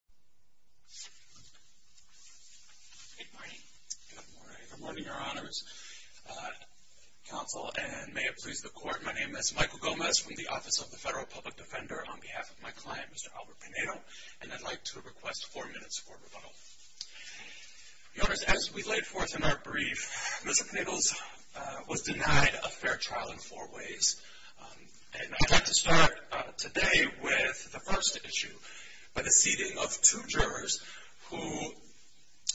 Good morning, your honors, counsel, and may it please the court, my name is Michael Gomez from the Office of the Federal Public Defender on behalf of my client, Mr. Albert Pinedo, and I'd like to request four minutes for rebuttal. Your honors, as we laid forth in our brief, Mr. Pinedo was denied a fair trial in four by the seating of two jurors who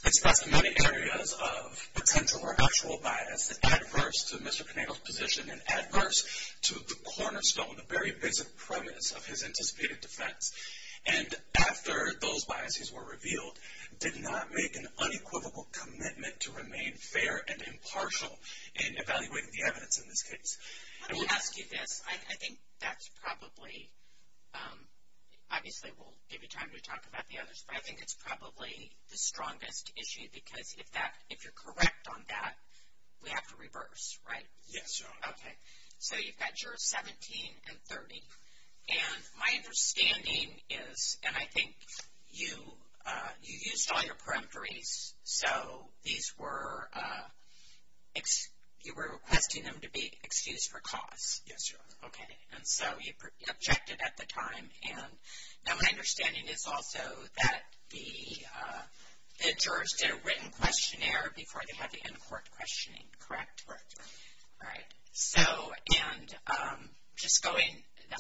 expressed many areas of potential or actual bias, adverse to Mr. Pinedo's position and adverse to the cornerstone, the very basic premise of his anticipated defense. And after those biases were revealed, did not make an unequivocal commitment to remain fair and impartial in evaluating the evidence in this case. Let me ask you this, I think that's probably, obviously we'll give you time to talk about the others, but I think it's probably the strongest issue because if that, if you're correct on that, we have to reverse, right? Yes, your honor. Okay, so you've got jurors 17 and 30. And my understanding is, and I think you, you used all your peremptories, so these were, you were requesting them to be excused for cause. Yes, your honor. Okay, and so you objected at the time. And now my understanding is also that the jurors did a written questionnaire before they had to end court questioning, correct? Correct, your honor. All right, so, and just going,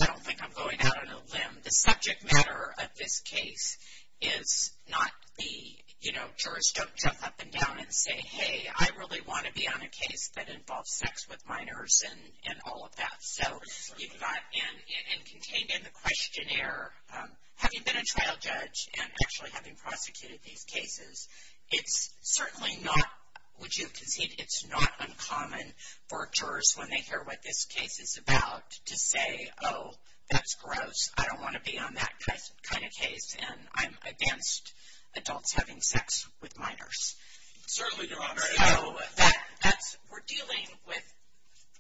I don't think I'm going out on a limb, the subject matter of this case is not the, you know, jurors don't jump up and down and say, hey, I really want to be on a case that involves sex with minors and all of that. So, you've got, and contained in the questionnaire, have you been a trial judge and actually having prosecuted these cases? It's certainly not, would you concede it's not uncommon for jurors when they hear what this case is about, to say, oh, that's gross, I don't want to be on that kind of case, and I'm against adults having sex with minors. Certainly not. So, that's, we're dealing with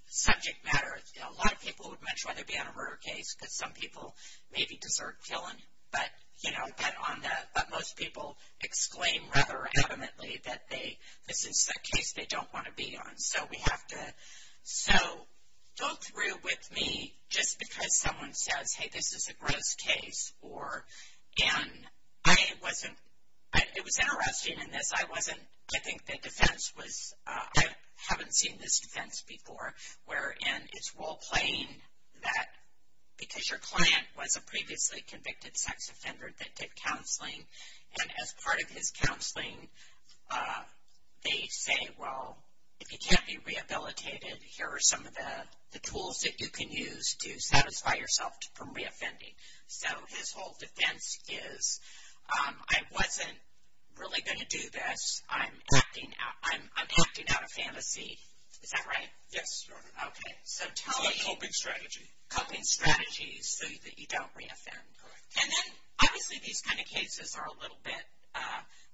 subject matter, you know, a lot of people would much rather be on a murder case, because some people maybe deserve killing, but, you know, but on the, but most people exclaim rather adamantly that they, this is the case they don't want to be on. So, we have to, so, go through with me, just because someone says, hey, this is a gross case, or, and, I wasn't, it was interesting in this, I wasn't, I think the defense was, I haven't seen this defense before, wherein it's role playing that, because your client was a previously convicted sex offender that did counseling, and as part of his counseling, they say, well, if you can't be rehabilitated, here are some of the tools that you can use to satisfy yourself from reoffending. So, his whole defense is, I wasn't really going to do this, I'm acting out, I'm acting out of fantasy, is that right? Yes, Your Honor. Okay. So, tell me. It's a coping strategy. Coping strategy, so that you don't reoffend. Correct. And then, obviously, these kind of cases are a little bit,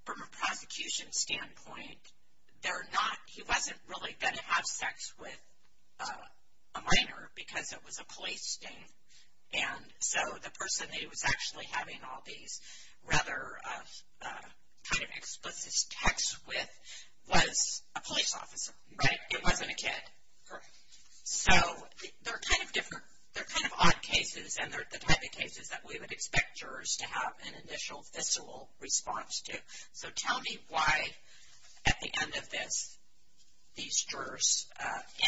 from a prosecution standpoint, they're not, he wasn't really going to have sex with a minor, because it was a police thing, and so the person that he was actually having all these rather kind of explicit texts with was a police officer, right? It wasn't a kid. Correct. So, they're kind of different, they're kind of odd cases, and they're the type of cases that we would expect jurors to have an initial, visceral response to. So, tell me why, at the end of this, these jurors,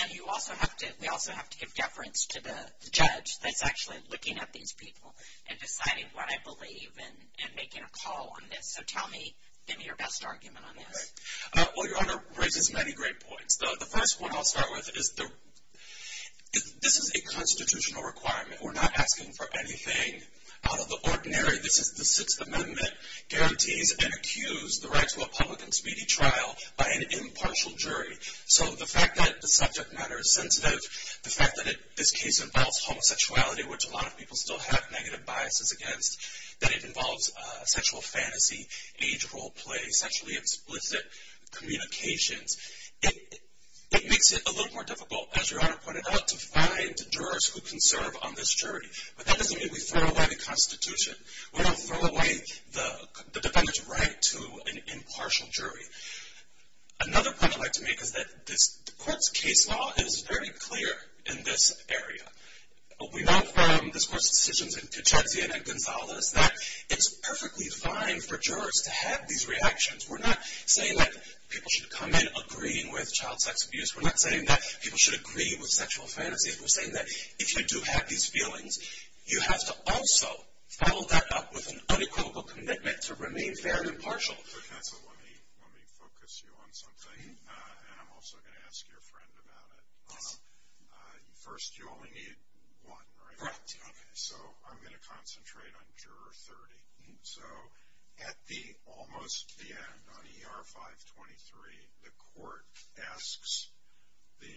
and you also have to, we also have to give deference to the judge that's actually looking at these people and deciding what I believe, and making a call on this. So, tell me, give me your best argument on this. Okay. Well, Your Honor, raises many great points. The first one I'll start with is, this is a constitutional requirement. We're not asking for anything out of the ordinary. This is the Sixth Amendment, guarantees and accused the right to a public and speedy trial by an impartial jury. So, the fact that the subject matter is sensitive, the fact that this case involves homosexuality, which a lot of people still have negative biases against, that it involves sexual fantasy, age role play, sexually explicit communications, it makes it a little more difficult, as Your Honor pointed out, to find jurors who can serve on this jury. But that doesn't mean we throw away the Constitution. We don't throw away the defendant's right to an impartial jury. Another point I'd like to make is that this court's case law is very clear in this area. What we know from this court's decisions in Puget Sound and Gonzales, that it's perfectly fine for jurors to have these reactions. We're not saying that people should come in agreeing with child sex abuse. We're not saying that people should agree with sexual fantasy. We're saying that if you do have these feelings, you have to also follow that up with an unequivocal commitment to remain fair and impartial. So let me focus you on something, and I'm also going to ask your friend about it. First, you only need one, right? Correct. Okay. So I'm going to concentrate on Juror 30. So at almost the end, on ER 523, the court asks the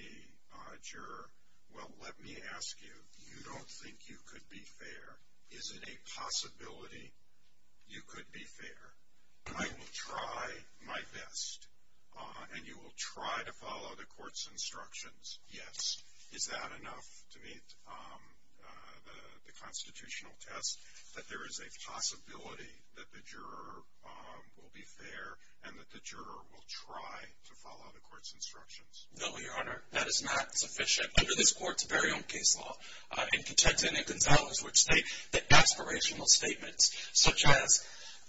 juror, well, let me ask you, you don't think you could be fair. Is it a possibility you could be fair? I will try my best, and you will try to follow the court's instructions. Yes. Is that enough to meet the constitutional test, that there is a possibility that the juror will be fair, and that the juror will try to follow the court's instructions? No, Your Honor, that is not sufficient. Under this court's very own case law, in Puget Sound and Gonzales, which state the aspirational statements, such as,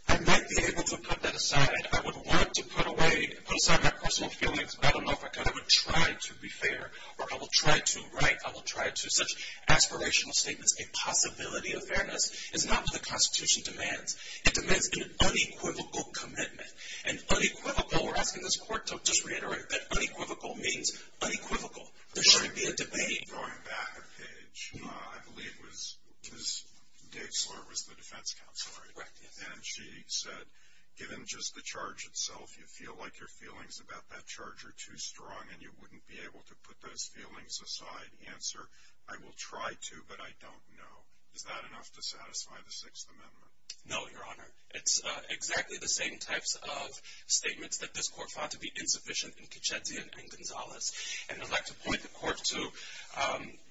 I might be able to put that aside. I would want to put away, put aside my personal feelings, but I don't know if I could. I would try to be fair, or I will try to, right? I will try to. Such aspirational statements, a possibility of fairness, is not what the Constitution demands. It demands an unequivocal commitment, and unequivocal, we're asking this court to just reiterate that unequivocal means unequivocal. There shouldn't be a debate. Going back a page, I believe Ms. Dixler was the defense counselor, right? Correct, yes. And she said, given just the charge itself, you feel like your feelings about that charge are too strong, and you wouldn't be able to put those feelings aside. The answer, I will try to, but I don't know. Is that enough to satisfy the Sixth Amendment? No, Your Honor. It's exactly the same types of statements that this court found to be insufficient in Puget Sound and Gonzales. And I'd like to point the court to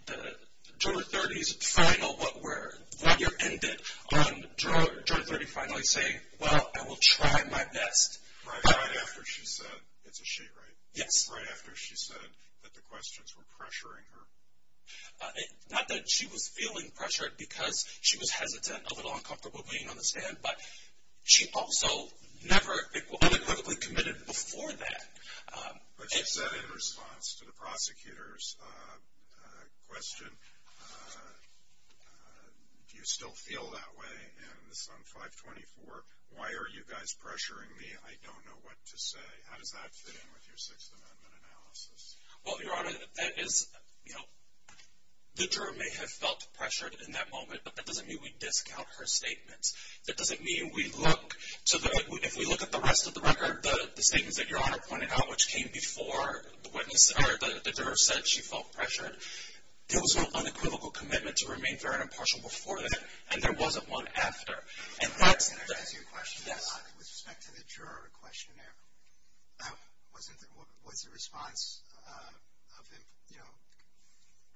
the juror 30's final, what we're, when you're ended on juror 30 finally saying, well, I will try my best. Right, right after she said, it's a she, right? Yes. Right after she said that the questions were pressuring her. Not that she was feeling pressured, because she was hesitant, a little uncomfortable being on the stand, but she also never unequivocally committed before that. But she said in response to the prosecutor's question, do you still feel that way? And this is on 524, why are you guys pressuring me? I don't know what to say. How does that fit in with your Sixth Amendment analysis? Well, Your Honor, that is, you know, the juror may have felt pressured in that moment, but that doesn't mean we discount her statements. That doesn't mean we look to the, if we look at the rest of the record, the statements that Your Honor pointed out, which came before the witness, or the juror said she felt pressured, there was an unequivocal commitment to remain fair and impartial before that, and there wasn't one after. And that's the- Can I ask you a question? Yes. With respect to the juror questionnaire, wasn't, was the response of, you know,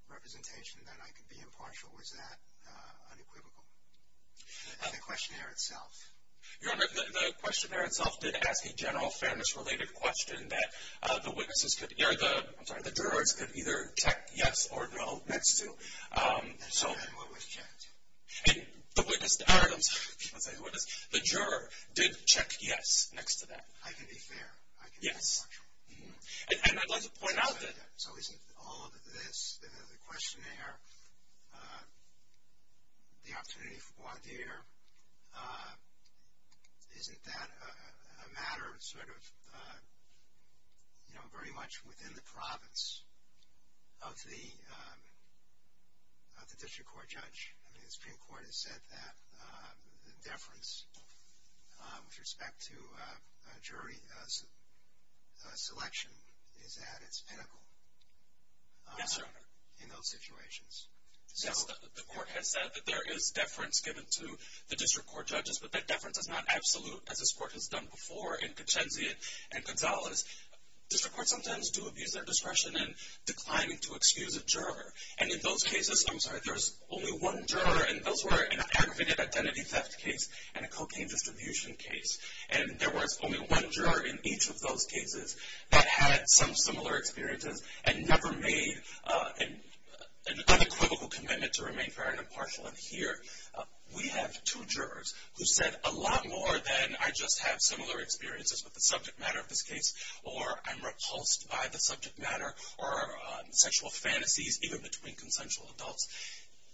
representation that I could be impartial, was that unequivocal? The questionnaire itself. Your Honor, the questionnaire itself did ask a general fairness-related question that the witnesses could, or the, I'm sorry, the jurors could either check yes or no next to. And what was checked? And the witness, I'm sorry, I was going to say the witness, the juror did check yes next to that. I can be fair. I can be impartial. Yes. And I'd like to point out that- The opportunity for voir dire, isn't that a matter of sort of, you know, very much within the province of the, of the district court judge? I mean, the Supreme Court has said that the deference with respect to jury selection is at its pinnacle. Yes, Your Honor. In those situations. Yes, the court has said that there is deference given to the district court judges, but that deference is not absolute, as this court has done before in Concienzia and Gonzalez. District courts sometimes do abuse their discretion in declining to excuse a juror. And in those cases, I'm sorry, there's only one juror, and those were an aggravated identity theft case and a cocaine distribution case. And there was only one juror in each of those cases that had some similar experiences and never made an unequivocal commitment to remain fair and impartial. And here, we have two jurors who said a lot more than, I just have similar experiences with the subject matter of this case, or I'm repulsed by the subject matter or sexual fantasies, even between consensual adults.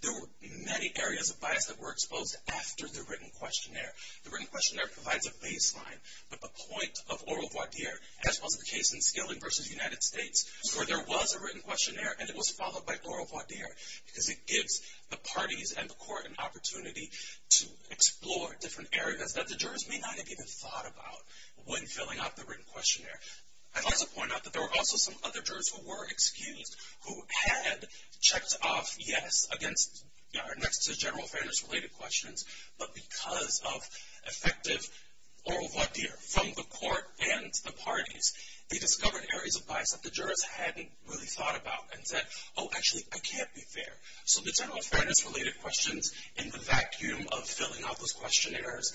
There were many areas of bias that were exposed after the written questionnaire. The written questionnaire provides a baseline, but the point of oral voir dire, as was the case in Skilling v. United States, where there was a written questionnaire and it was followed by oral voir dire, because it gives the parties and the court an opportunity to explore different areas that the jurors may not have even thought about when filling out the written questionnaire. I'd also point out that there were also some other jurors who were excused who had checked off, yes, against, next to general fairness related questions, but because of effective oral voir dire from the court and the parties, they discovered areas of bias that the jurors hadn't really thought about and said, oh, actually, I can't be fair. So, the general fairness related questions in the vacuum of filling out those questionnaires,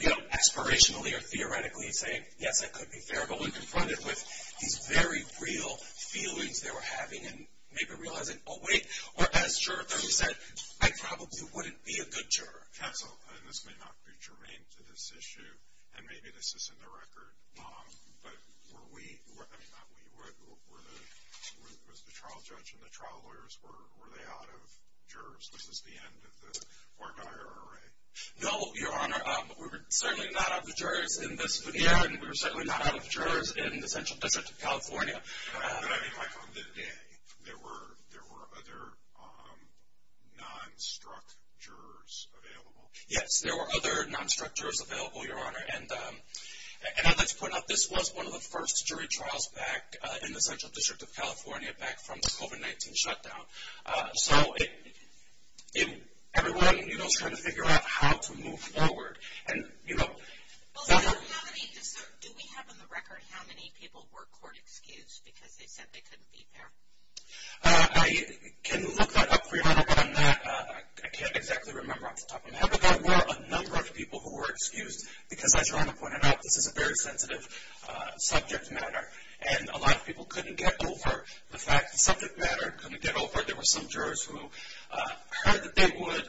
you know, aspirationally or theoretically saying, yes, I could be fair, but when confronted with these very real feelings they were having and maybe realizing, oh, wait, or as Juror 30 said, I probably wouldn't be a good juror. Council, and this may not be germane to this issue, and maybe this isn't a record, but were we, I mean, not we, were the, was the trial judge and the trial lawyers, were they out of jurors? Was this the end of the voir dire array? No, Your Honor, we were certainly not out of jurors in this, yeah, and we were certainly not out of jurors in the Central District of California. But, I mean, like on that day, there were other non-struck jurors available? Yes, there were other non-struck jurors available, Your Honor, and I'd like to point out, this was one of the first jury trials back in the Central District of California back from the COVID-19 shutdown. So, everyone, you know, was trying to figure out how to move forward, and, you know. Well, so how many, so do we have on the record how many people were court excused because they said they couldn't be there? I can look that up for you, Your Honor, but I'm not, I can't exactly remember off the top of my head, but there were a number of people who were excused because, as Your Honor pointed out, this is a very sensitive subject matter, and a lot of people couldn't get over the fact, the subject matter couldn't get over, there were some jurors who heard that they would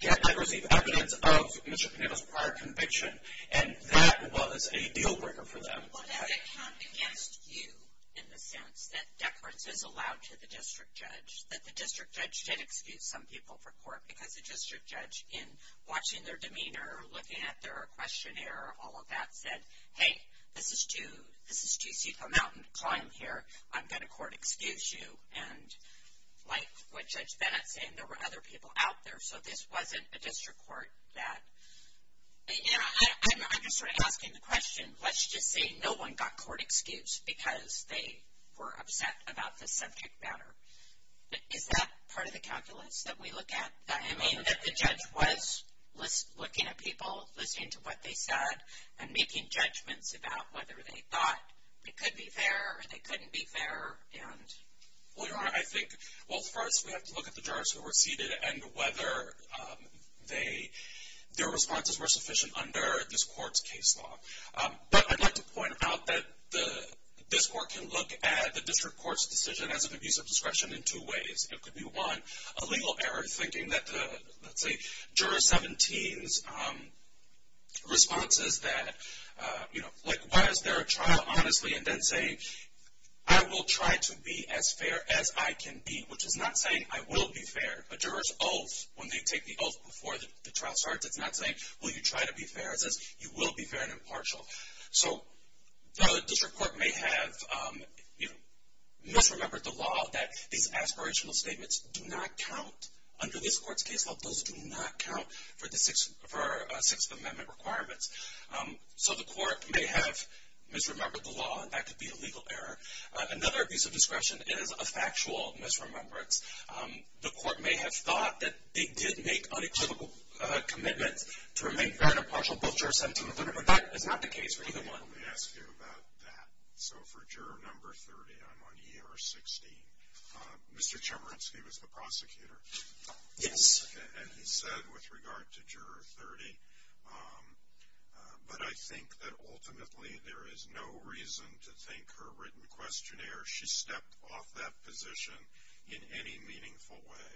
get to receive evidence of Mr. Pineda's prior conviction, and that was a deal breaker for them. Well, does it count against you, in the sense that deference is allowed to the district judge, that the district judge did excuse some people for court because the district judge, in watching their demeanor, looking at their questionnaire, all of that, said, hey, this is too steep a mountain to climb here, I'm going to court excuse you, and like what Judge Bennett's saying, there were other people out there, so this wasn't a district court that, you know, I'm just sort of asking the question, let's just say no one got court excused because they were upset about the subject matter. Is that part of the calculus that we look at? I mean, that the judge was looking at people, listening to what they said, and making judgments about whether they thought it could be fair, or they couldn't be fair, and. Well, Your Honor, I think, well, first, we have to look at the jurors who were seated, and whether they, their responses were sufficient under this court's case law. But I'd like to point out that the, this court can look at the district court's decision as an abuse of discretion in two ways. It could be, one, a legal error, thinking that the, let's say, Juror 17's response is that, you know, like, why is there a trial, honestly? And then say, I will try to be as fair as I can be, which is not saying I will be fair. A juror's oath, when they take the oath before the trial starts, it's not saying, will you try to be fair, it says, you will be fair and impartial. So, the district court may have, you know, misremembered the law that these aspirational statements do not count under this court's case law. Those do not count for the Sixth Amendment requirements. So, the court may have misremembered the law, and that could be a legal error. Another abuse of discretion is a factual misremembrance. The court may have thought that they did make unequivocal commitments to remain fair and impartial, both Juror 17 and 30, but that is not the case for either one. Let me ask you about that. So, for Juror Number 30, I'm on Year 16. Mr. Chemerinsky was the prosecutor. Yes. And he said, with regard to Juror 30, but I think that ultimately there is no reason to think her written questionnaire, she stepped off that position in any meaningful way.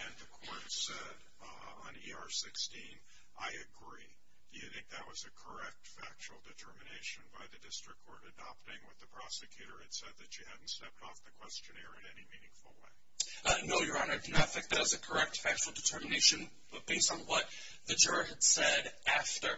And the court said, on Year 16, I agree. Do you think that was a correct factual determination by the district court adopting what the prosecutor had said, that she hadn't stepped off the questionnaire in any meaningful way? No, Your Honor, I do not think that was a correct factual determination. But based on what the juror had said after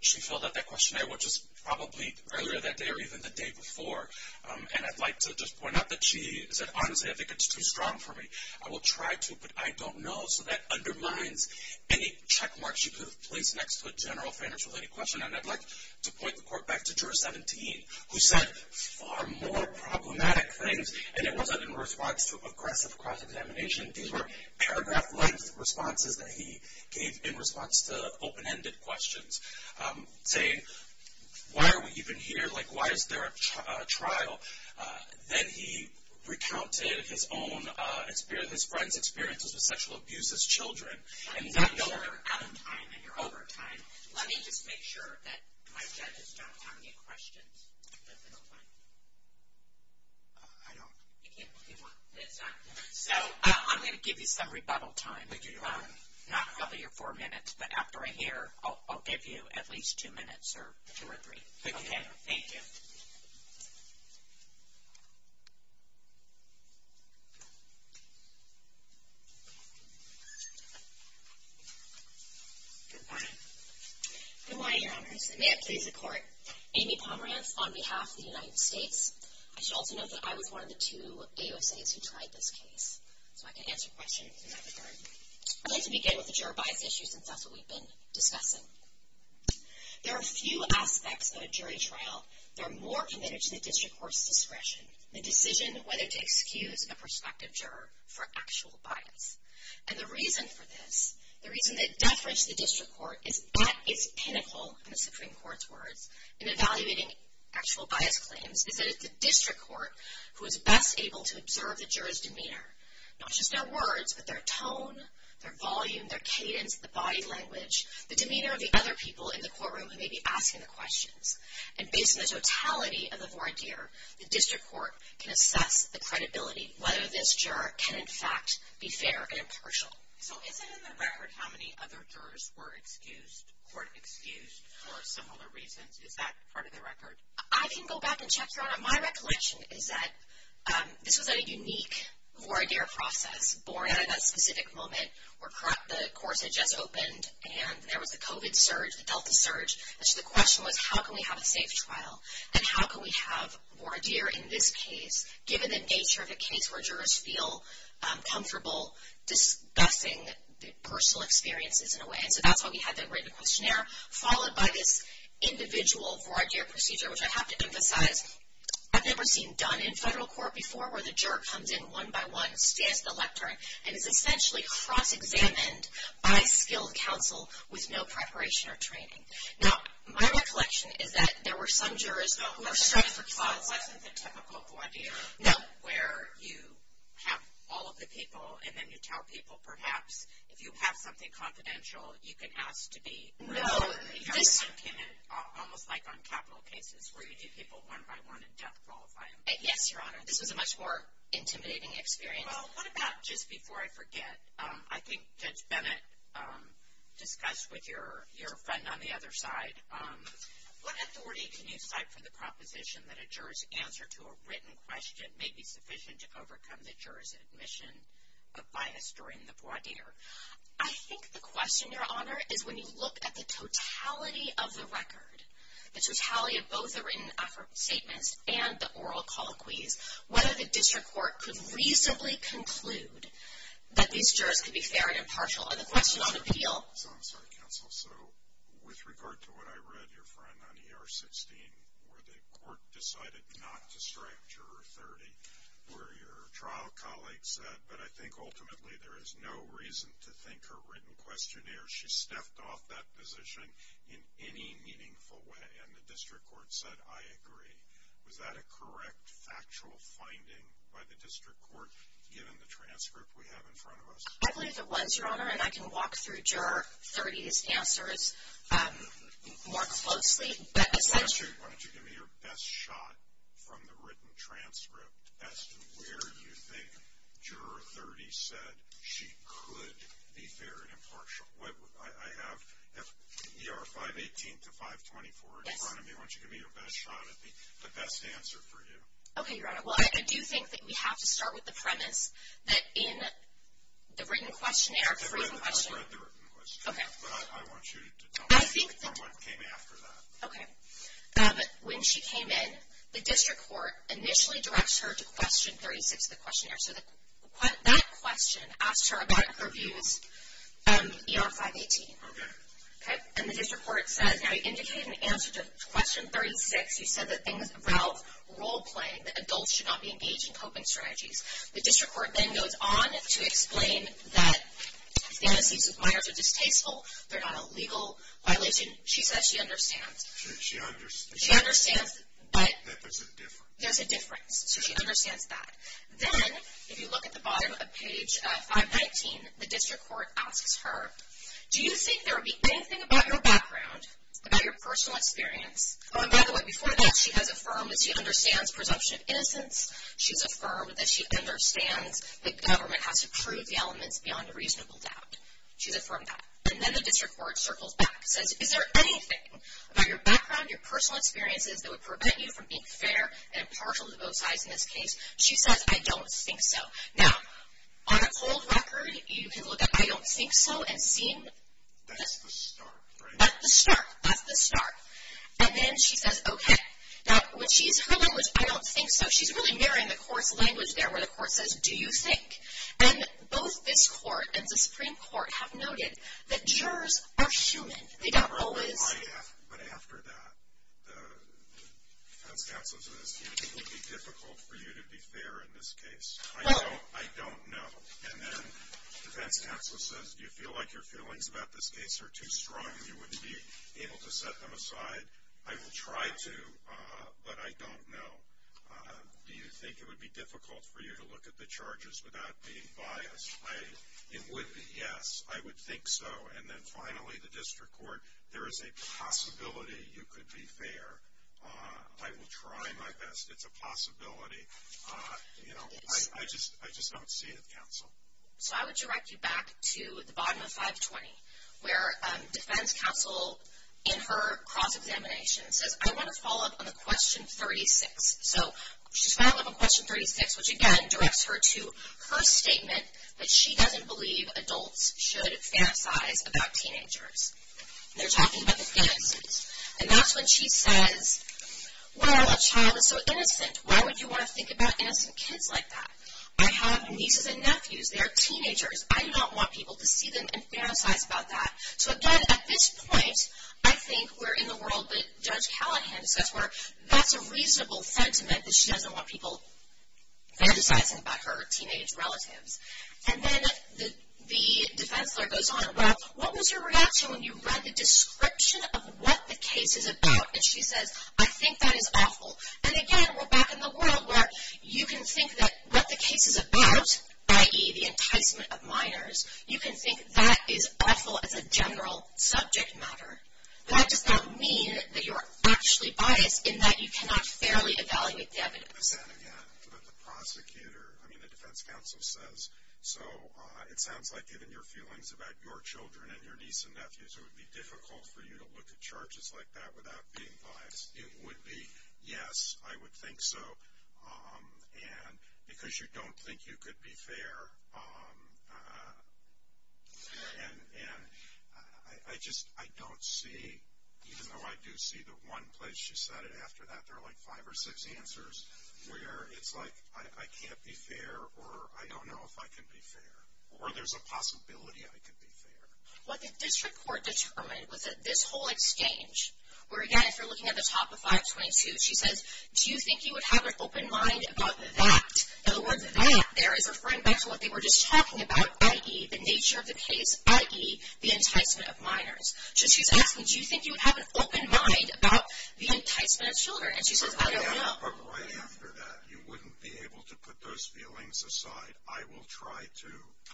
she filled out that questionnaire, which was probably earlier that day or even the day before, and I'd like to just point out that she said, honestly, I think it's too strong for me. I will try to, but I don't know. So, that undermines any checkmarks she could have placed next to a general fairness-related question. And I'd like to point the court back to Juror 17, who said far more problematic things, and it wasn't in response to aggressive cross-examination. These were paragraph-length responses that he gave in response to open-ended questions, saying, why are we even here? Like, why is there a trial? Then he recounted his own, his friend's experiences with sexual abuse as children. And that, Your Honor. I'm sorry, we're out of time, and you're over time. Let me just make sure that my judges don't have any questions at this point. I don't. You can't move on. It's not. So, I'm going to give you some rebuttal time. But, Your Honor. Not probably your four minutes, but after I hear, I'll give you at least two minutes or two or three. Okay. Thank you. Good morning. Good morning, Your Honors. And may it please the Court. Amy Pomerance, on behalf of the United States. I should also note that I was one of the two AUSAs who tried this case. So, I can answer questions in that regard. I'd like to begin with the juror bias issue, since that's what we've been discussing. There are a few aspects of a jury trial that are more committed to the district court's discretion. The decision whether to excuse a prospective juror for actual bias. And the reason for this, the reason that deference to the district court is at its pinnacle in the Supreme Court's words, in evaluating actual bias claims, is that it's the district court who is best able to observe the juror's demeanor. Not just their words, but their tone, their volume, their cadence, the body language, the demeanor of the other people in the courtroom who may be asking the questions. And based on the totality of the voir dire, the district court can assess the credibility, whether this juror can, in fact, be fair and impartial. So, is it in the record how many other jurors were excused, court excused for similar reasons? Is that part of the record? I can go back and check, Your Honor. My recollection is that this was a unique voir dire process, born out of that specific moment where the courts had just opened, and there was the COVID surge, the Delta surge. And so, the question was, how can we have a safe trial? And how can we have voir dire in this case, given the nature of a case where jurors feel comfortable discussing their personal experiences, in a way? And so, that's why we had that written questionnaire, followed by this individual voir dire procedure, which I have to emphasize, I've never seen done in federal court before, where the juror comes in one by one, stands at the lectern, and is essentially cross-examined by skilled counsel with no preparation or training. Now, my recollection is that there were some jurors who were struck for clause. So, that wasn't the typical voir dire, where you have all of the people, and then you tell people, perhaps, if you have something confidential, you can ask to be. No, this. Almost like on capital cases, where you do people one by one and death qualify them. Yes, Your Honor. This was a much more intimidating experience. Well, what about, just before I forget, I think Judge Bennett discussed with your friend on the other side, what authority can you cite for the proposition that a juror's answer to a written question may be sufficient to overcome the juror's admission of bias during the voir dire? I think the question, Your Honor, is when you look at the totality of the record, the totality of both the written statements and the oral colloquies, whether the district court could reasonably conclude that these jurors could be fair and impartial. And the question on appeal. So, I'm sorry, counsel. So, with regard to what I read, your friend, on ER 16, where the court decided not to strike Juror 30, where your trial colleague said, but I think, ultimately, there is no reason to think her written questionnaire, she stepped off that position in any meaningful way. And the district court said, I agree. Was that a correct, factual finding by the district court, given the transcript we have in front of us? I believe it was, Your Honor. And I can walk through Juror 30's answers more closely. But essentially. Why don't you give me your best shot from the written transcript as to where you think Juror 30 said she could be fair and impartial. I have ER 518 to 524 in front of me. Why don't you give me your best shot at the best answer for you? Okay, Your Honor. Well, I do think that we have to start with the premise that in the written questionnaire. The written questionnaire. The written questionnaire. Okay. But I want you to tell me from what came after that. Okay. When she came in, the district court initially directs her to question 36 of the questionnaire, so that question asked her about her views on ER 518. Okay. Okay. And the district court says, now you indicated an answer to question 36. You said that things, Ralph, role playing, that adults should not be engaged in coping strategies. The district court then goes on to explain that fantasies with minors are distasteful. They're not a legal violation. She says she understands. She understands. She understands. But. That there's a difference. There's a difference. So she understands that. Then, if you look at the bottom of page 519, the district court asks her, do you think there would be anything about your background, about your personal experience. Oh, and by the way, before that, she has affirmed that she understands presumption of innocence. She's affirmed that she understands that government has to prove the elements beyond a reasonable doubt. She's affirmed that. And then the district court circles back. Says, is there anything about your background, your personal experiences that would prevent you from being fair and impartial to both sides in this case? She says, I don't think so. Now, on a cold record, you can look at I don't think so and seem. That's the start, right? That's the start. That's the start. And then she says, okay. Now, when she's, her language, I don't think so. She's really mirroring the court's language there, where the court says, do you think? And both this court and the Supreme Court have noted that jurors are human. They don't always. But after that, the defense counsel says, would it be difficult for you to be fair in this case? I don't know. And then the defense counsel says, do you feel like your feelings about this case are too strong and you wouldn't be able to set them aside? I will try to, but I don't know. Do you think it would be difficult for you to look at the charges without being biased? I, it would be yes. I would think so. And then finally, the district court, there is a possibility you could be fair. I will try my best. It's a possibility. You know, I just, I just don't see it, counsel. So I would direct you back to the bottom of 520, where defense counsel, in her cross-examination, says, I want to follow up on the question 36. So she's following up on question 36, which again, directs her to her statement that she doesn't believe adults should fantasize about teenagers. They're talking about the fantasies. And that's when she says, well, a child is so innocent. Why would you want to think about innocent kids like that? I have nieces and nephews. They're teenagers. I do not want people to see them and fantasize about that. So again, at this point, I think we're in the world that Judge Callahan says where that's a reasonable sentiment that she doesn't want people fantasizing about her teenage relatives. And then the defense lawyer goes on. Well, what was your reaction when you read the description of what the case is about? And she says, I think that is awful. And again, we're back in the world where you can think that what the case is about, i.e. the enticement of minors, you can think that is awful as a general subject matter. That does not mean that you're actually biased in that you cannot fairly evaluate the evidence. And again, what the prosecutor, I mean, the defense counsel says, so it sounds like given your feelings about your children and your nieces and nephews, it would be difficult for you to look at charges like that without being biased. It would be yes, I would think so. And because you don't think you could be fair, and I just, I don't see, even though I do see the one place she said it after that, there are like five or six answers. Where it's like, I can't be fair, or I don't know if I can be fair. Or there's a possibility I could be fair. What the district court determined was that this whole exchange, where again, if you're looking at the top of 522, she says, do you think you would have an open mind about that? In other words, that there is referring back to what they were just talking about, i.e. the nature of the case, i.e. the enticement of minors. So she's asking, do you think you would have an open mind about the enticement of children? And she says, I don't know. But right after that, you wouldn't be able to put those feelings aside. I will try to,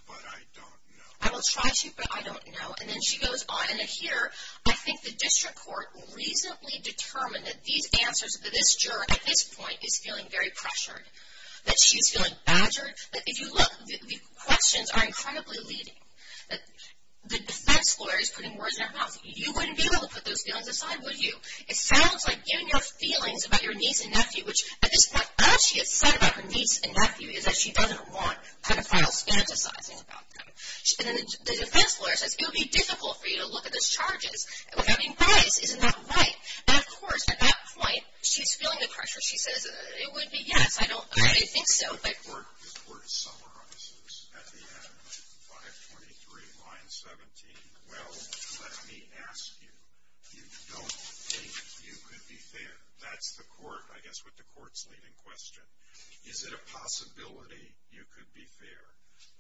but I don't know. I will try to, but I don't know. And then she goes on, and here, I think the district court reasonably determined that these answers, that this juror at this point is feeling very pressured. That she's feeling badgered. That if you look, the questions are incredibly leading. That the defense lawyer is putting words in her mouth. You wouldn't be able to put those feelings aside, would you? It sounds like giving your feelings about your niece and nephew, which at this point, all she has said about her niece and nephew is that she doesn't want pedophiles fantasizing about them, and then the defense lawyer says, it would be difficult for you to look at those charges without any bias. Isn't that right? And of course, at that point, she's feeling the pressure. She says, it would be yes. I don't, I didn't think so, but. The court summarizes at the end, 523, line 17, well, let me ask you. You don't think you could be fair. That's the court, I guess, what the court's leading question. Is it a possibility you could be fair?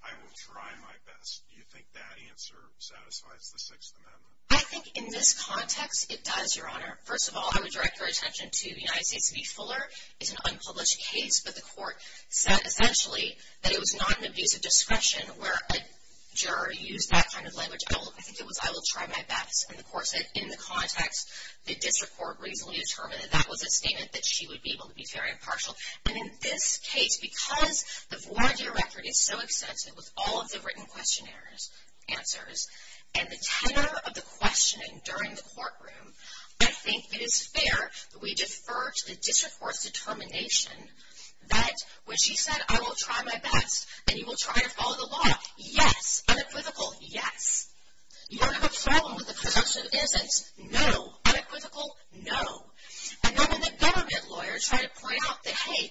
I will try my best. Do you think that answer satisfies the Sixth Amendment? I think in this context, it does, Your Honor. First of all, I would direct your attention to the United States v. Fuller. It's an unpublished case, but the court said essentially that it was not an abuse of discretion where a juror used that kind of language. I think it was, I will try my best. And of course, in the context, the district court reasonably determined that that was a statement that she would be able to be very impartial. And in this case, because the warranty record is so extensive with all of the written questionnaires, answers, and the tenor of the questioning during the courtroom, I think it is fair that we defer to the district court's determination that when she said, I will try my best, and you will try to follow the law, yes, unequivocal, yes. You don't have a problem with the presumption of innocence, no, unequivocal, no. And then when the government lawyer tried to point out that, hey,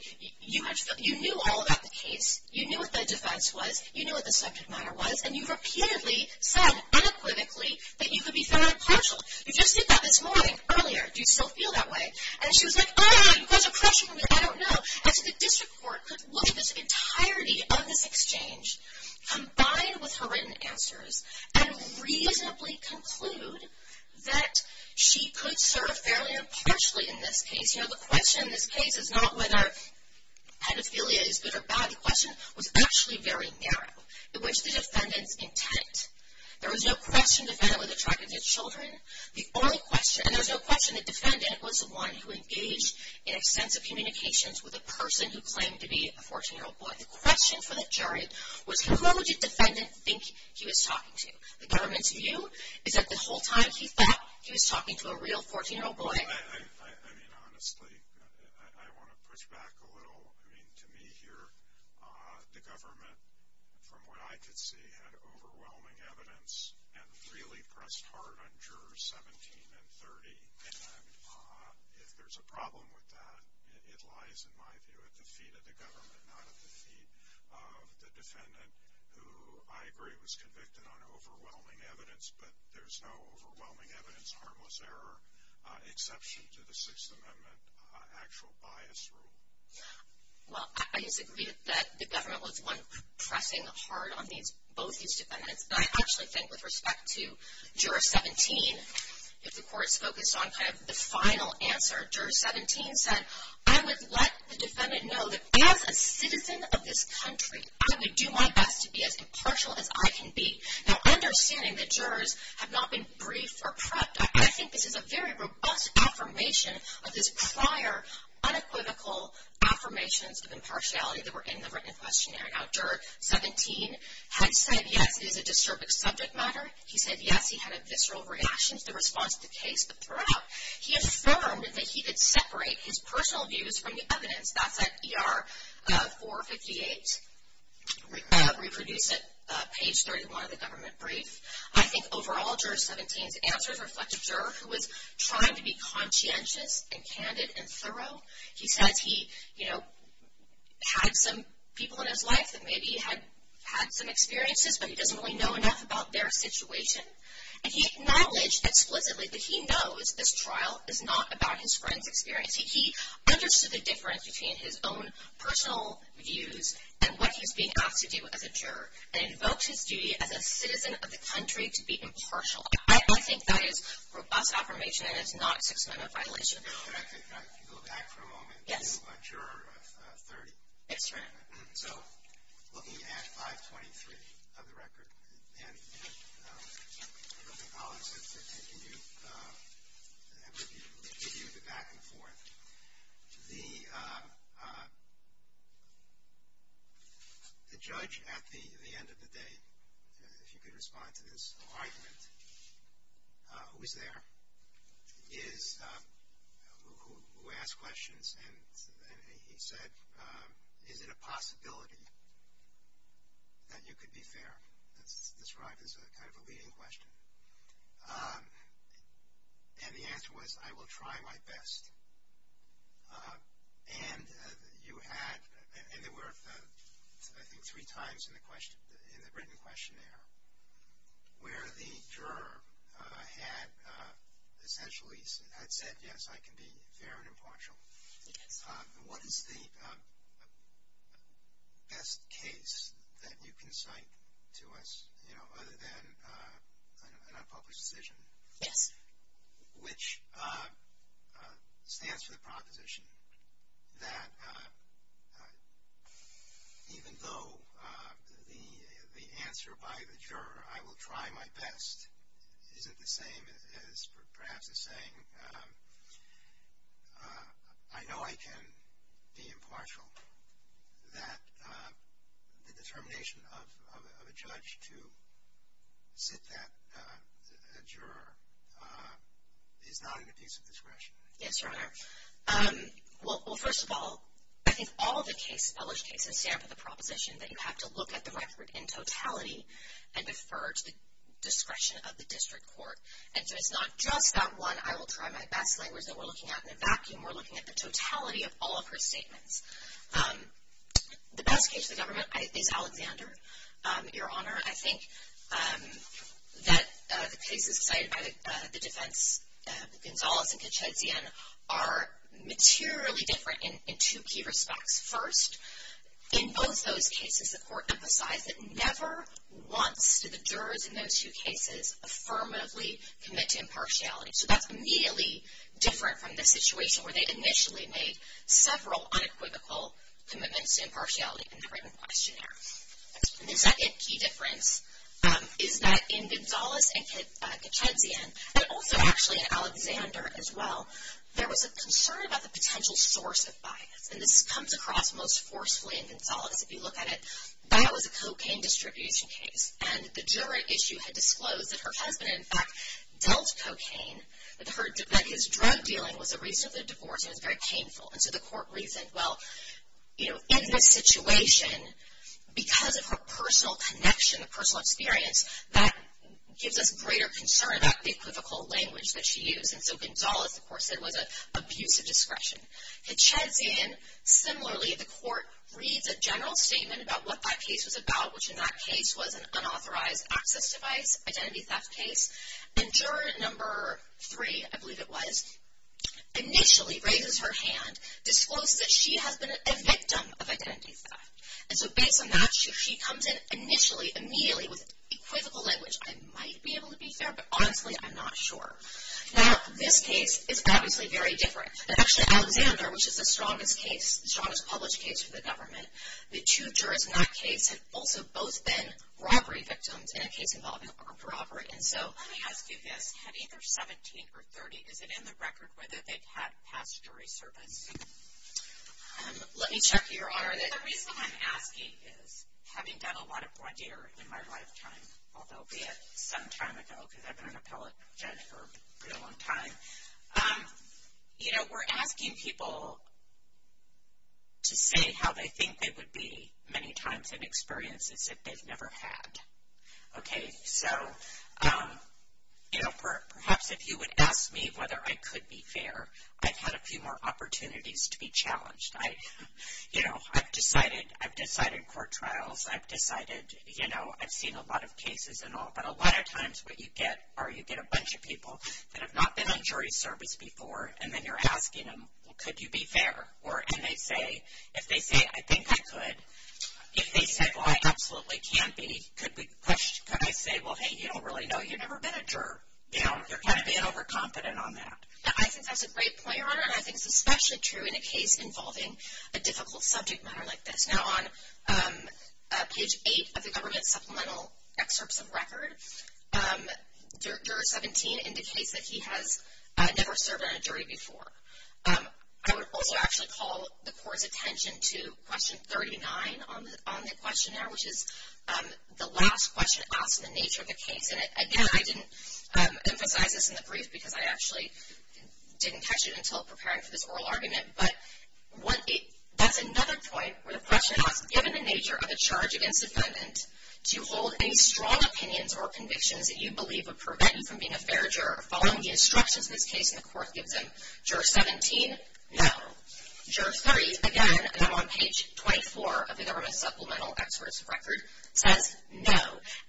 you knew all about the case, you knew what the defense was, you knew what the subject matter was, and you repeatedly said unequivocally that you could be fair and impartial. You just did that this morning, earlier, do you still feel that way? And she was like, oh, you guys are crushing me, I don't know. And so the district court could look at this entirety of this exchange combined with her written answers and reasonably conclude that she could serve fairly impartially in this case. You know, the question in this case is not whether pedophilia is good or bad. The question was actually very narrow, in which the defendant's intent. There was no question the defendant was attracted to children, the only question, and there was no question the defendant was the one who engaged in extensive communications with a person who claimed to be a 14-year-old boy. The question for the jury was who would the defendant think he was talking to? The government's view is that the whole time he thought he was talking to a real 14-year-old boy. I mean, honestly, I want to push back a little. I mean, to me here, the government, from what I could see, had overwhelming evidence and really pressed hard on jurors 17 and 30. And if there's a problem with that, it lies, in my view, at the feet of the government, not at the feet of the defendant, who I agree was convicted on overwhelming evidence, but there's no overwhelming evidence, harmless error, exception to the Sixth Amendment actual bias rule. Well, I disagree that the government was the one pressing hard on both these defendants. But I actually think, with respect to juror 17, if the court's focused on kind of the final answer, juror 17 said, I would let the defendant know that as a citizen of this country, I would do my best to be as impartial as I can be. Now, understanding that jurors have not been briefed or prepped, I think this is a very robust affirmation of this prior, unequivocal affirmations of impartiality that were in the written questionnaire. Now, juror 17 had said, yes, it is a disturbing subject matter. He said, yes, he had a visceral reaction to the response to the case. But throughout, he affirmed that he did separate his personal views from the evidence. That's at ER 458, reproduced at page 31 of the government brief. I think, overall, juror 17's answers reflect a juror who was trying to be conscientious and candid and thorough. He says he, you know, had some people in his life that maybe had some experiences, but he doesn't really know enough about their situation. And he acknowledged explicitly that he knows this trial is not about his friend's experience. He understood the difference between his own personal views and what he's being asked to do as a juror, and invoked his duty as a citizen of the country to be impartial. I think that is robust affirmation, and it's not a Sixth Amendment violation. If you go back for a moment, you're a juror of 30. So, looking at 523 of the record, and the colleagues have reviewed it back and forth. The judge, at the end of the day, if you could respond to this argument, who is there, is, who asked questions, and he said, is it a possibility that you could be fair? That's described as a kind of a leading question. And the answer was, I will try my best. And you had, and there were, I think, three times in the written questionnaire, where the juror had essentially, had said, yes, I can be fair and impartial. And what is the best case that you can cite to us, you know, other than an unpublished decision? Yes. Which stands for the proposition that even though the answer by the juror, I will try my best, isn't the same as perhaps a saying, I know I can be impartial. That the determination of a judge to sit that, a juror, is not an apiece of discretion. Yes, Your Honor. Well, first of all, I think all of the case, published cases, stand for the proposition that you have to look at the record in totality and defer to the discretion of the district court. And so, it's not just that one, I will try my best language that we're looking at in a vacuum. We're looking at the totality of all of her statements. The best case of the government is Alexander, Your Honor. I think that the cases cited by the defense, Gonzalez and Kachetzian, are materially different in two key respects. First, in both those cases, the court emphasized that never once did the jurors in those two cases affirmatively commit to impartiality. So, that's immediately different from the situation where they initially made several unequivocal commitments to impartiality in the written questionnaire. The second key difference is that in Gonzalez and Kachetzian, and also actually in Alexander as well, there was a concern about the potential source of bias. And this comes across most forcefully in Gonzalez. If you look at it, that was a cocaine distribution case. And the juror issue had disclosed that her husband, in fact, dealt cocaine. That his drug dealing was the reason for the divorce, and it was very painful. And so, the court reasoned, well, you know, in this situation, because of her personal connection, her personal experience, that gives us greater concern about the equivocal language that she used. And so, Gonzalez, of course, said it was an abuse of discretion. Kachetzian, similarly, the court reads a general statement about what that case was about, which in that case was an unauthorized access device, identity theft case. And juror number three, I believe it was, initially raises her hand, discloses that she has been a victim of identity theft. And so, based on that, she comes in initially, immediately, with equivocal language. I might be able to be fair, but honestly, I'm not sure. Now, this case is obviously very different. And actually, Alexander, which is the strongest case, the strongest published case for the government, the two jurors in that case had also both been robbery victims in a case involving armed robbery. And so, let me ask you this, have either 17 or 30, is it in the record whether they've had past jury service? Let me check your honor, the reason I'm asking is, having done a lot of blood deal in my lifetime, although be it some time ago, because I've been an appellate judge for a pretty long time, you know, we're asking people to say how they think they would be many times in experiences that they've never had. Okay, so, you know, perhaps if you would ask me whether I could be fair, I've had a few more opportunities to be challenged. I, you know, I've decided, I've decided court trials, I've decided, you know, I've seen a lot of cases and all, but a lot of times what you get are you get a bunch of people that have not been on jury service before, and then you're asking them, well, could you be fair? Or, and they say, if they say, I think I could, if they said, well, I absolutely can be, could we, could I say, well, hey, you don't really know, you've never been a juror. You know, you're kind of being overconfident on that. I think that's a great point, your honor, and I think it's especially true in a case involving a difficult subject matter like this. Now, on page 8 of the government supplemental excerpts of record, juror 17 indicates that he has never served on a jury before. I would also actually call the court's attention to question 39 on the questionnaire, which is the last question asked and the nature of the case. And again, I didn't emphasize this in the brief because I actually didn't catch it until preparing for this oral argument, but that's another point where the question asked, given the nature of a charge against defendant, do you hold any strong opinions or convictions that you believe would prevent you from being a fair juror? Following the instructions in this case, and the court gives him, juror 17, no. Juror 30, again, and I'm on page 24 of the government supplemental excerpts of record, says no.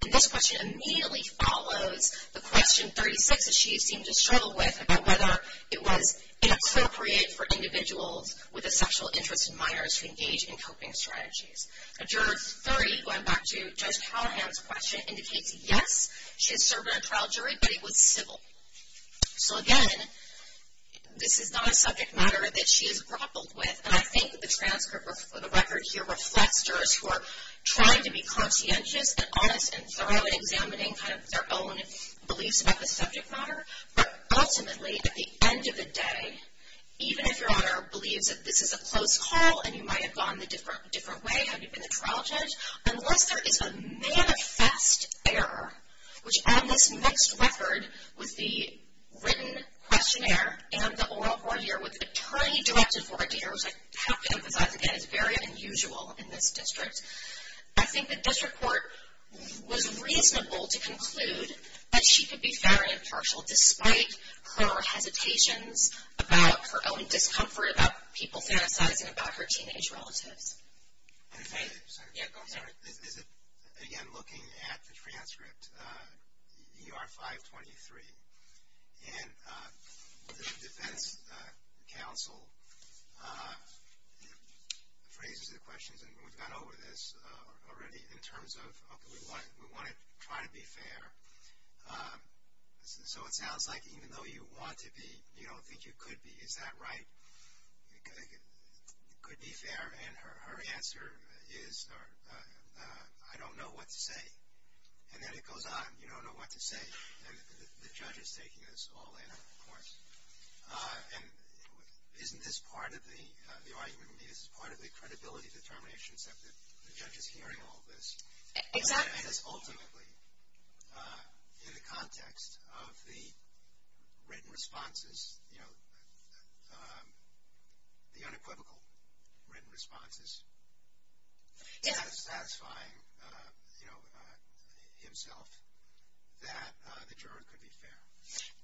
And this question immediately follows the question 36 that she seemed to struggle with about whether it was inappropriate for individuals with a sexual interest in minors to engage in coping strategies. Juror 30, going back to Judge Callahan's question, indicates yes, she has served on a trial jury, but it was civil. So again, this is not a subject matter that she has grappled with, and I think the transcript, the record here reflects jurors who are trying to be conscientious and honest and thorough in examining kind of their own beliefs about the subject matter. But ultimately, at the end of the day, even if your honor believes that this is a close call and you might have gone the different way had you been a trial judge, unless there is a manifest error, which on this next record with the written questionnaire and the oral court here with the attorney directed for a jury, which I have to emphasize again, is very unusual in this district, I think the district court was reasonable to conclude that she could be very impartial despite her hesitations about her own discomfort, about people fantasizing about her teenage relatives. And if I may, is it, again, looking at the transcript, you are 523, and the defense counsel phrases the questions, and we've gone over this already in terms of, okay, we want to try to be fair, so it sounds like even though you want to be, you don't think you could be, is that right? It could be fair, and her answer is, I don't know what to say. And then it goes on, you don't know what to say, and the judge is taking this all in, of course. And isn't this part of the, the argument, is this part of the credibility determinations that the judge is hearing all this? It is ultimately, in the context of the written responses, you know, the unequivocal written responses, satisfying, you know, himself, that the juror could be fair.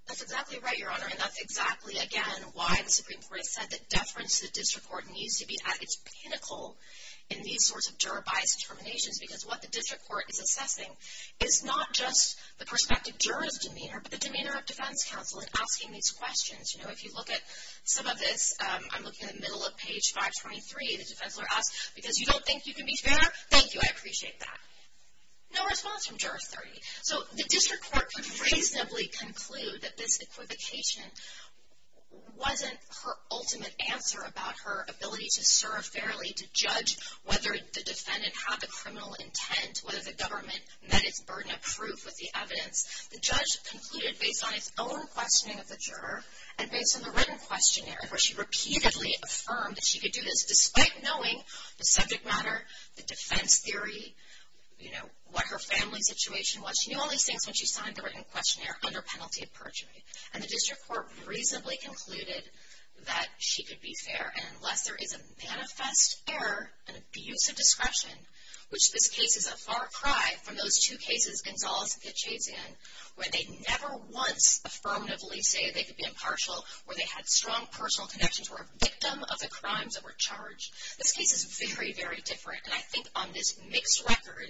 That's exactly right, Your Honor, and that's exactly, again, why the Supreme Court has said that deference to the district court needs to be at its pinnacle in these sorts of juror-biased determinations, because what the district court is assessing is not just the perspective juror's demeanor, but the demeanor of defense counsel in asking these questions. You know, if you look at some of this, I'm looking at the middle of page 523, the defense lawyer asks, because you don't think you can be fair, thank you, I appreciate that. No response from juror 30, so the district court could reasonably conclude that this equivocation wasn't her ultimate answer about her ability to serve fairly, to judge whether the defendant had the criminal intent, whether the government met its burden of proof with the evidence. The judge concluded based on its own questioning of the juror and based on the written questionnaire where she repeatedly affirmed that she could do this despite knowing the subject matter, the defense theory, you know, what her family situation was. She knew all these things when she signed the written questionnaire under penalty of perjury, and the district court reasonably concluded that she could be fair, and unless there is a manifest error, an abuse of discretion, which this case is a far cry from those two cases Gonzales and Kitchazian where they never once affirmatively say they could be impartial, where they had strong personal connections, were a victim of the crimes that were charged, this case is very, very different. And I think on this mixed record,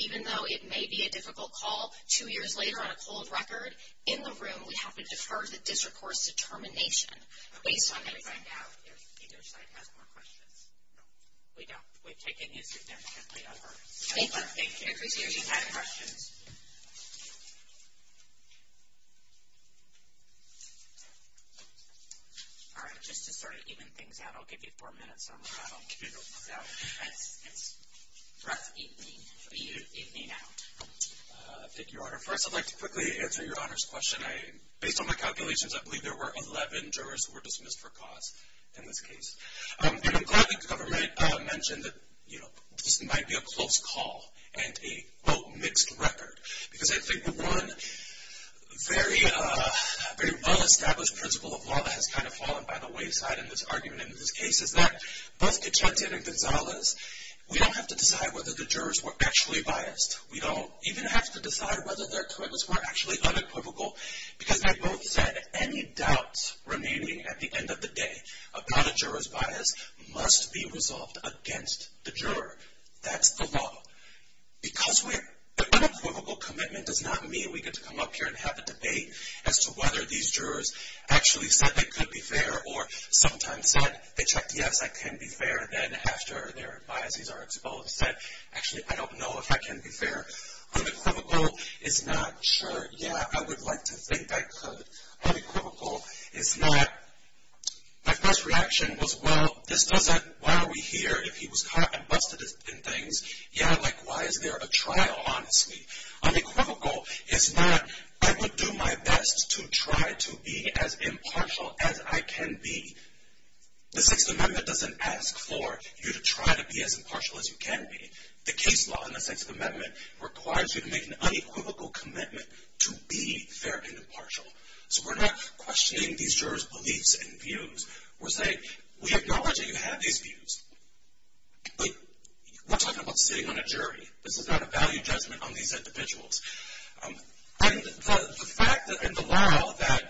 even though it may be a difficult call two years later on a cold record, in the room we have to defer the district court's determination based on the evidence. We'll have to find out if either side has more questions. We don't. We've taken this intentionally over. Thank you. We appreciate it. If you have any questions. All right, just to sort of even things out, I'll give you four minutes on the model. So, it's rough evening, evening out. Thank you, Your Honor. First, I'd like to quickly answer Your Honor's question. Based on my calculations, I believe there were 11 jurors who were dismissed for cause in this case. And I'm glad the government mentioned that, you know, this might be a close call and a, quote, mixed record, because I think the one very, very well-established principle of law that has kind of fallen by the wayside in this argument in this case is that both Kitchazian and Gonzales, we don't have to decide whether the jurors were actually biased. We don't even have to decide whether their commitments were actually unequivocal, because they both said any doubts remaining at the end of the day about a juror's bias must be resolved against the juror. That's the law. Because the unequivocal commitment does not mean we get to come up here and have a debate as to whether these jurors actually said they could be fair or sometimes said they checked, yes, I can be fair. Then after their biases are exposed, said, actually, I don't know if I can be fair. Unequivocal is not, sure, yeah, I would like to think I could. Unequivocal is not, my first reaction was, well, this doesn't, why are we here? If he was caught and busted in things, yeah, like, why is there a trial, honestly? Unequivocal is not, I would do my best to try to be as impartial as I can be. The 6th Amendment doesn't ask for you to try to be as impartial as you can be. The case law in the 6th Amendment requires you to make an unequivocal commitment to be fair and impartial. So we're not questioning these jurors' beliefs and views. We're saying, we acknowledge that you have these views. But we're talking about sitting on a jury. This is not a value judgment on these individuals. And the fact and the law that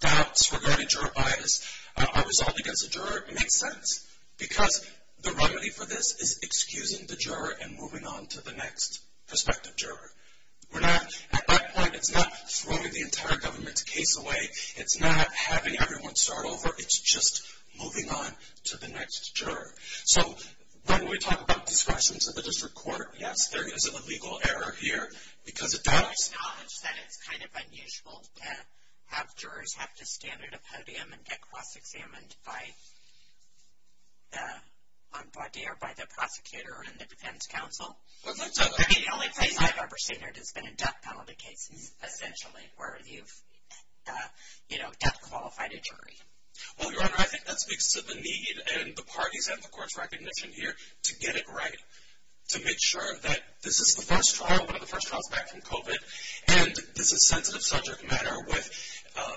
doubts regarding juror bias are resolved against a juror makes sense because the remedy for this is excusing the juror and moving on to the next prospective juror. We're not, at that point, it's not throwing the entire government's case away. It's not having everyone start over. It's just moving on to the next juror. So when we talk about discretion to the district court, yes, there is a legal error here. Because it does. I acknowledge that it's kind of unusual to have jurors have to stand at a podium and get cross-examined on body or by the prosecutor and the defense counsel. The only place I've ever seen it has been in death penalty cases, essentially, where you've death-qualified a jury. Well, Your Honor, I think that speaks to the need, and the parties have the court's recognition here, to get it right. To make sure that this is the first trial, one of the first trials back from COVID. And this is sensitive subject matter with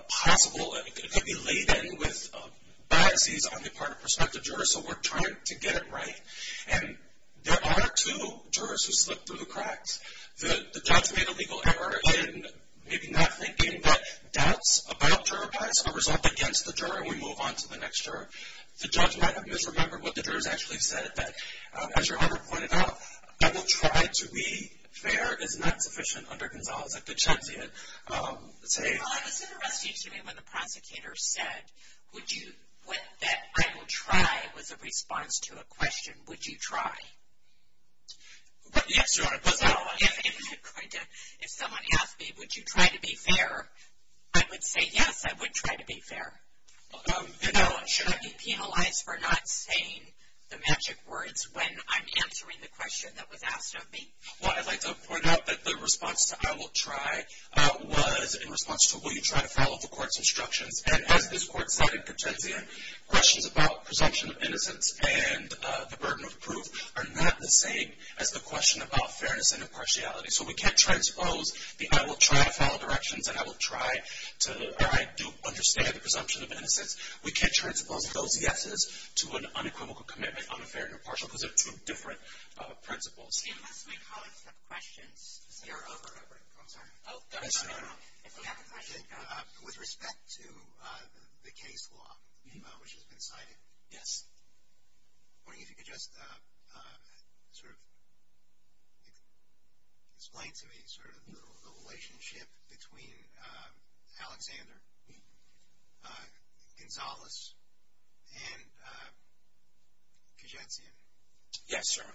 possible, it could be laid in with biases on the part of prospective jurors. So we're trying to get it right. And there are two jurors who slipped through the cracks. The judge made a legal error in maybe not thinking that doubts about juror bias are resolved against the juror, and we move on to the next juror. The judge might have misremembered what the jurors actually said, that, as Your Honor pointed out, I will try to be fair is not sufficient under Gonzales. I could change it. Well, I was interested to hear when the prosecutor said, would you, that I will try was a response to a question, would you try? Yes, Your Honor. If someone asked me, would you try to be fair, I would say yes, I would try to be fair. And should I be penalized for not saying the magic words when I'm answering the question that was asked of me? Well, I'd like to point out that the response to I will try was in response to, will you try to follow the court's instructions? And as this court cited, Contenzian, questions about presumption of innocence and the burden of proof are not the same as the question about fairness and impartiality. So we can't transpose the I will try to follow directions and I will try to, or I do understand the presumption of innocence. We can't transpose those yeses to an unequivocal commitment on a fair and impartial presumption of different principles. Unless my colleagues have questions. You're over, I'm sorry. Oh, go ahead, Senator. With respect to the case law, which has been cited. Yes. I'm wondering if you could just sort of explain to me sort of the relationship between Alexander Gonzalez and Kajetsian. Yes, Your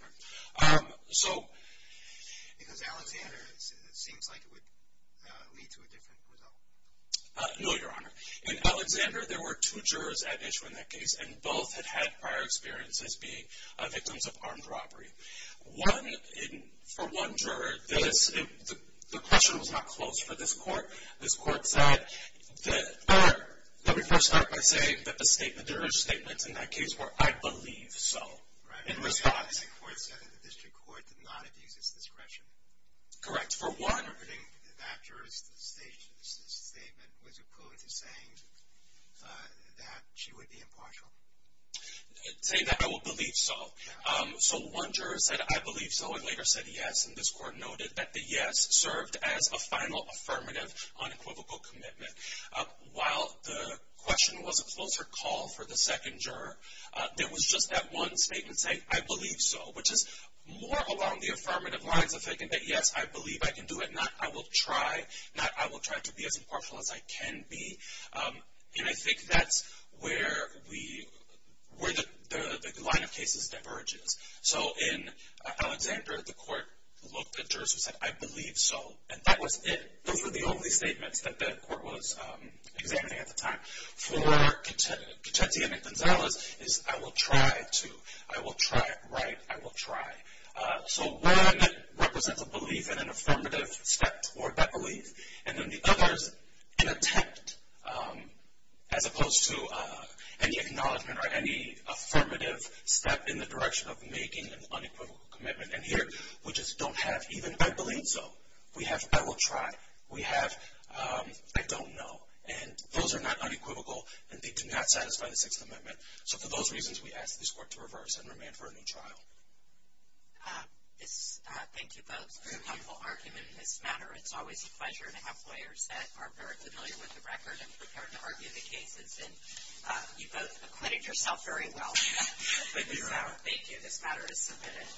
Honor. So. Because Alexander seems like it would lead to a different result. No, Your Honor. In Alexander, there were two jurors at issue in that case, and both had had prior experiences being victims of armed robbery. One, for one juror, the question was not closed for this court. This court said that, let me first start by saying that the jurors' statements in that case were, I believe so, in response. The court said that the district court did not abuse its discretion. Correct. For one. I think that juror's statement was equivalent to saying that she would be impartial. Saying that, I will believe so. So one juror said, I believe so, and later said yes. And this court noted that the yes served as a final affirmative unequivocal commitment. While the question was a closer call for the second juror, there was just that one statement saying, I believe so, which is more along the affirmative lines of thinking that, yes, I believe I can do it. Not, I will try. Not, I will try to be as impartial as I can be. And I think that's where the line of cases diverges. So in Alexander, the court looked at jurors who said, I believe so. And that was it. Those were the only statements that the court was examining at the time. For Conchetti and Gonzalez, it's, I will try to. I will try, right? I will try. So one represents a belief in an affirmative step toward that belief. And then the other is an attempt, as opposed to any acknowledgement or any affirmative step in the direction of making an unequivocal commitment. And here, we just don't have even, I believe so. We have, I will try. We have, I don't know. And those are not unequivocal, and they do not satisfy the Sixth Amendment. So for those reasons, we ask this court to reverse and remand for a new trial. Thank you both for your helpful argument in this matter. It's always a pleasure to have lawyers that are very familiar with the record and prepared to argue the cases. And you both acquitted yourself very well. Thank you, Your Honor. Thank you. This matter is submitted.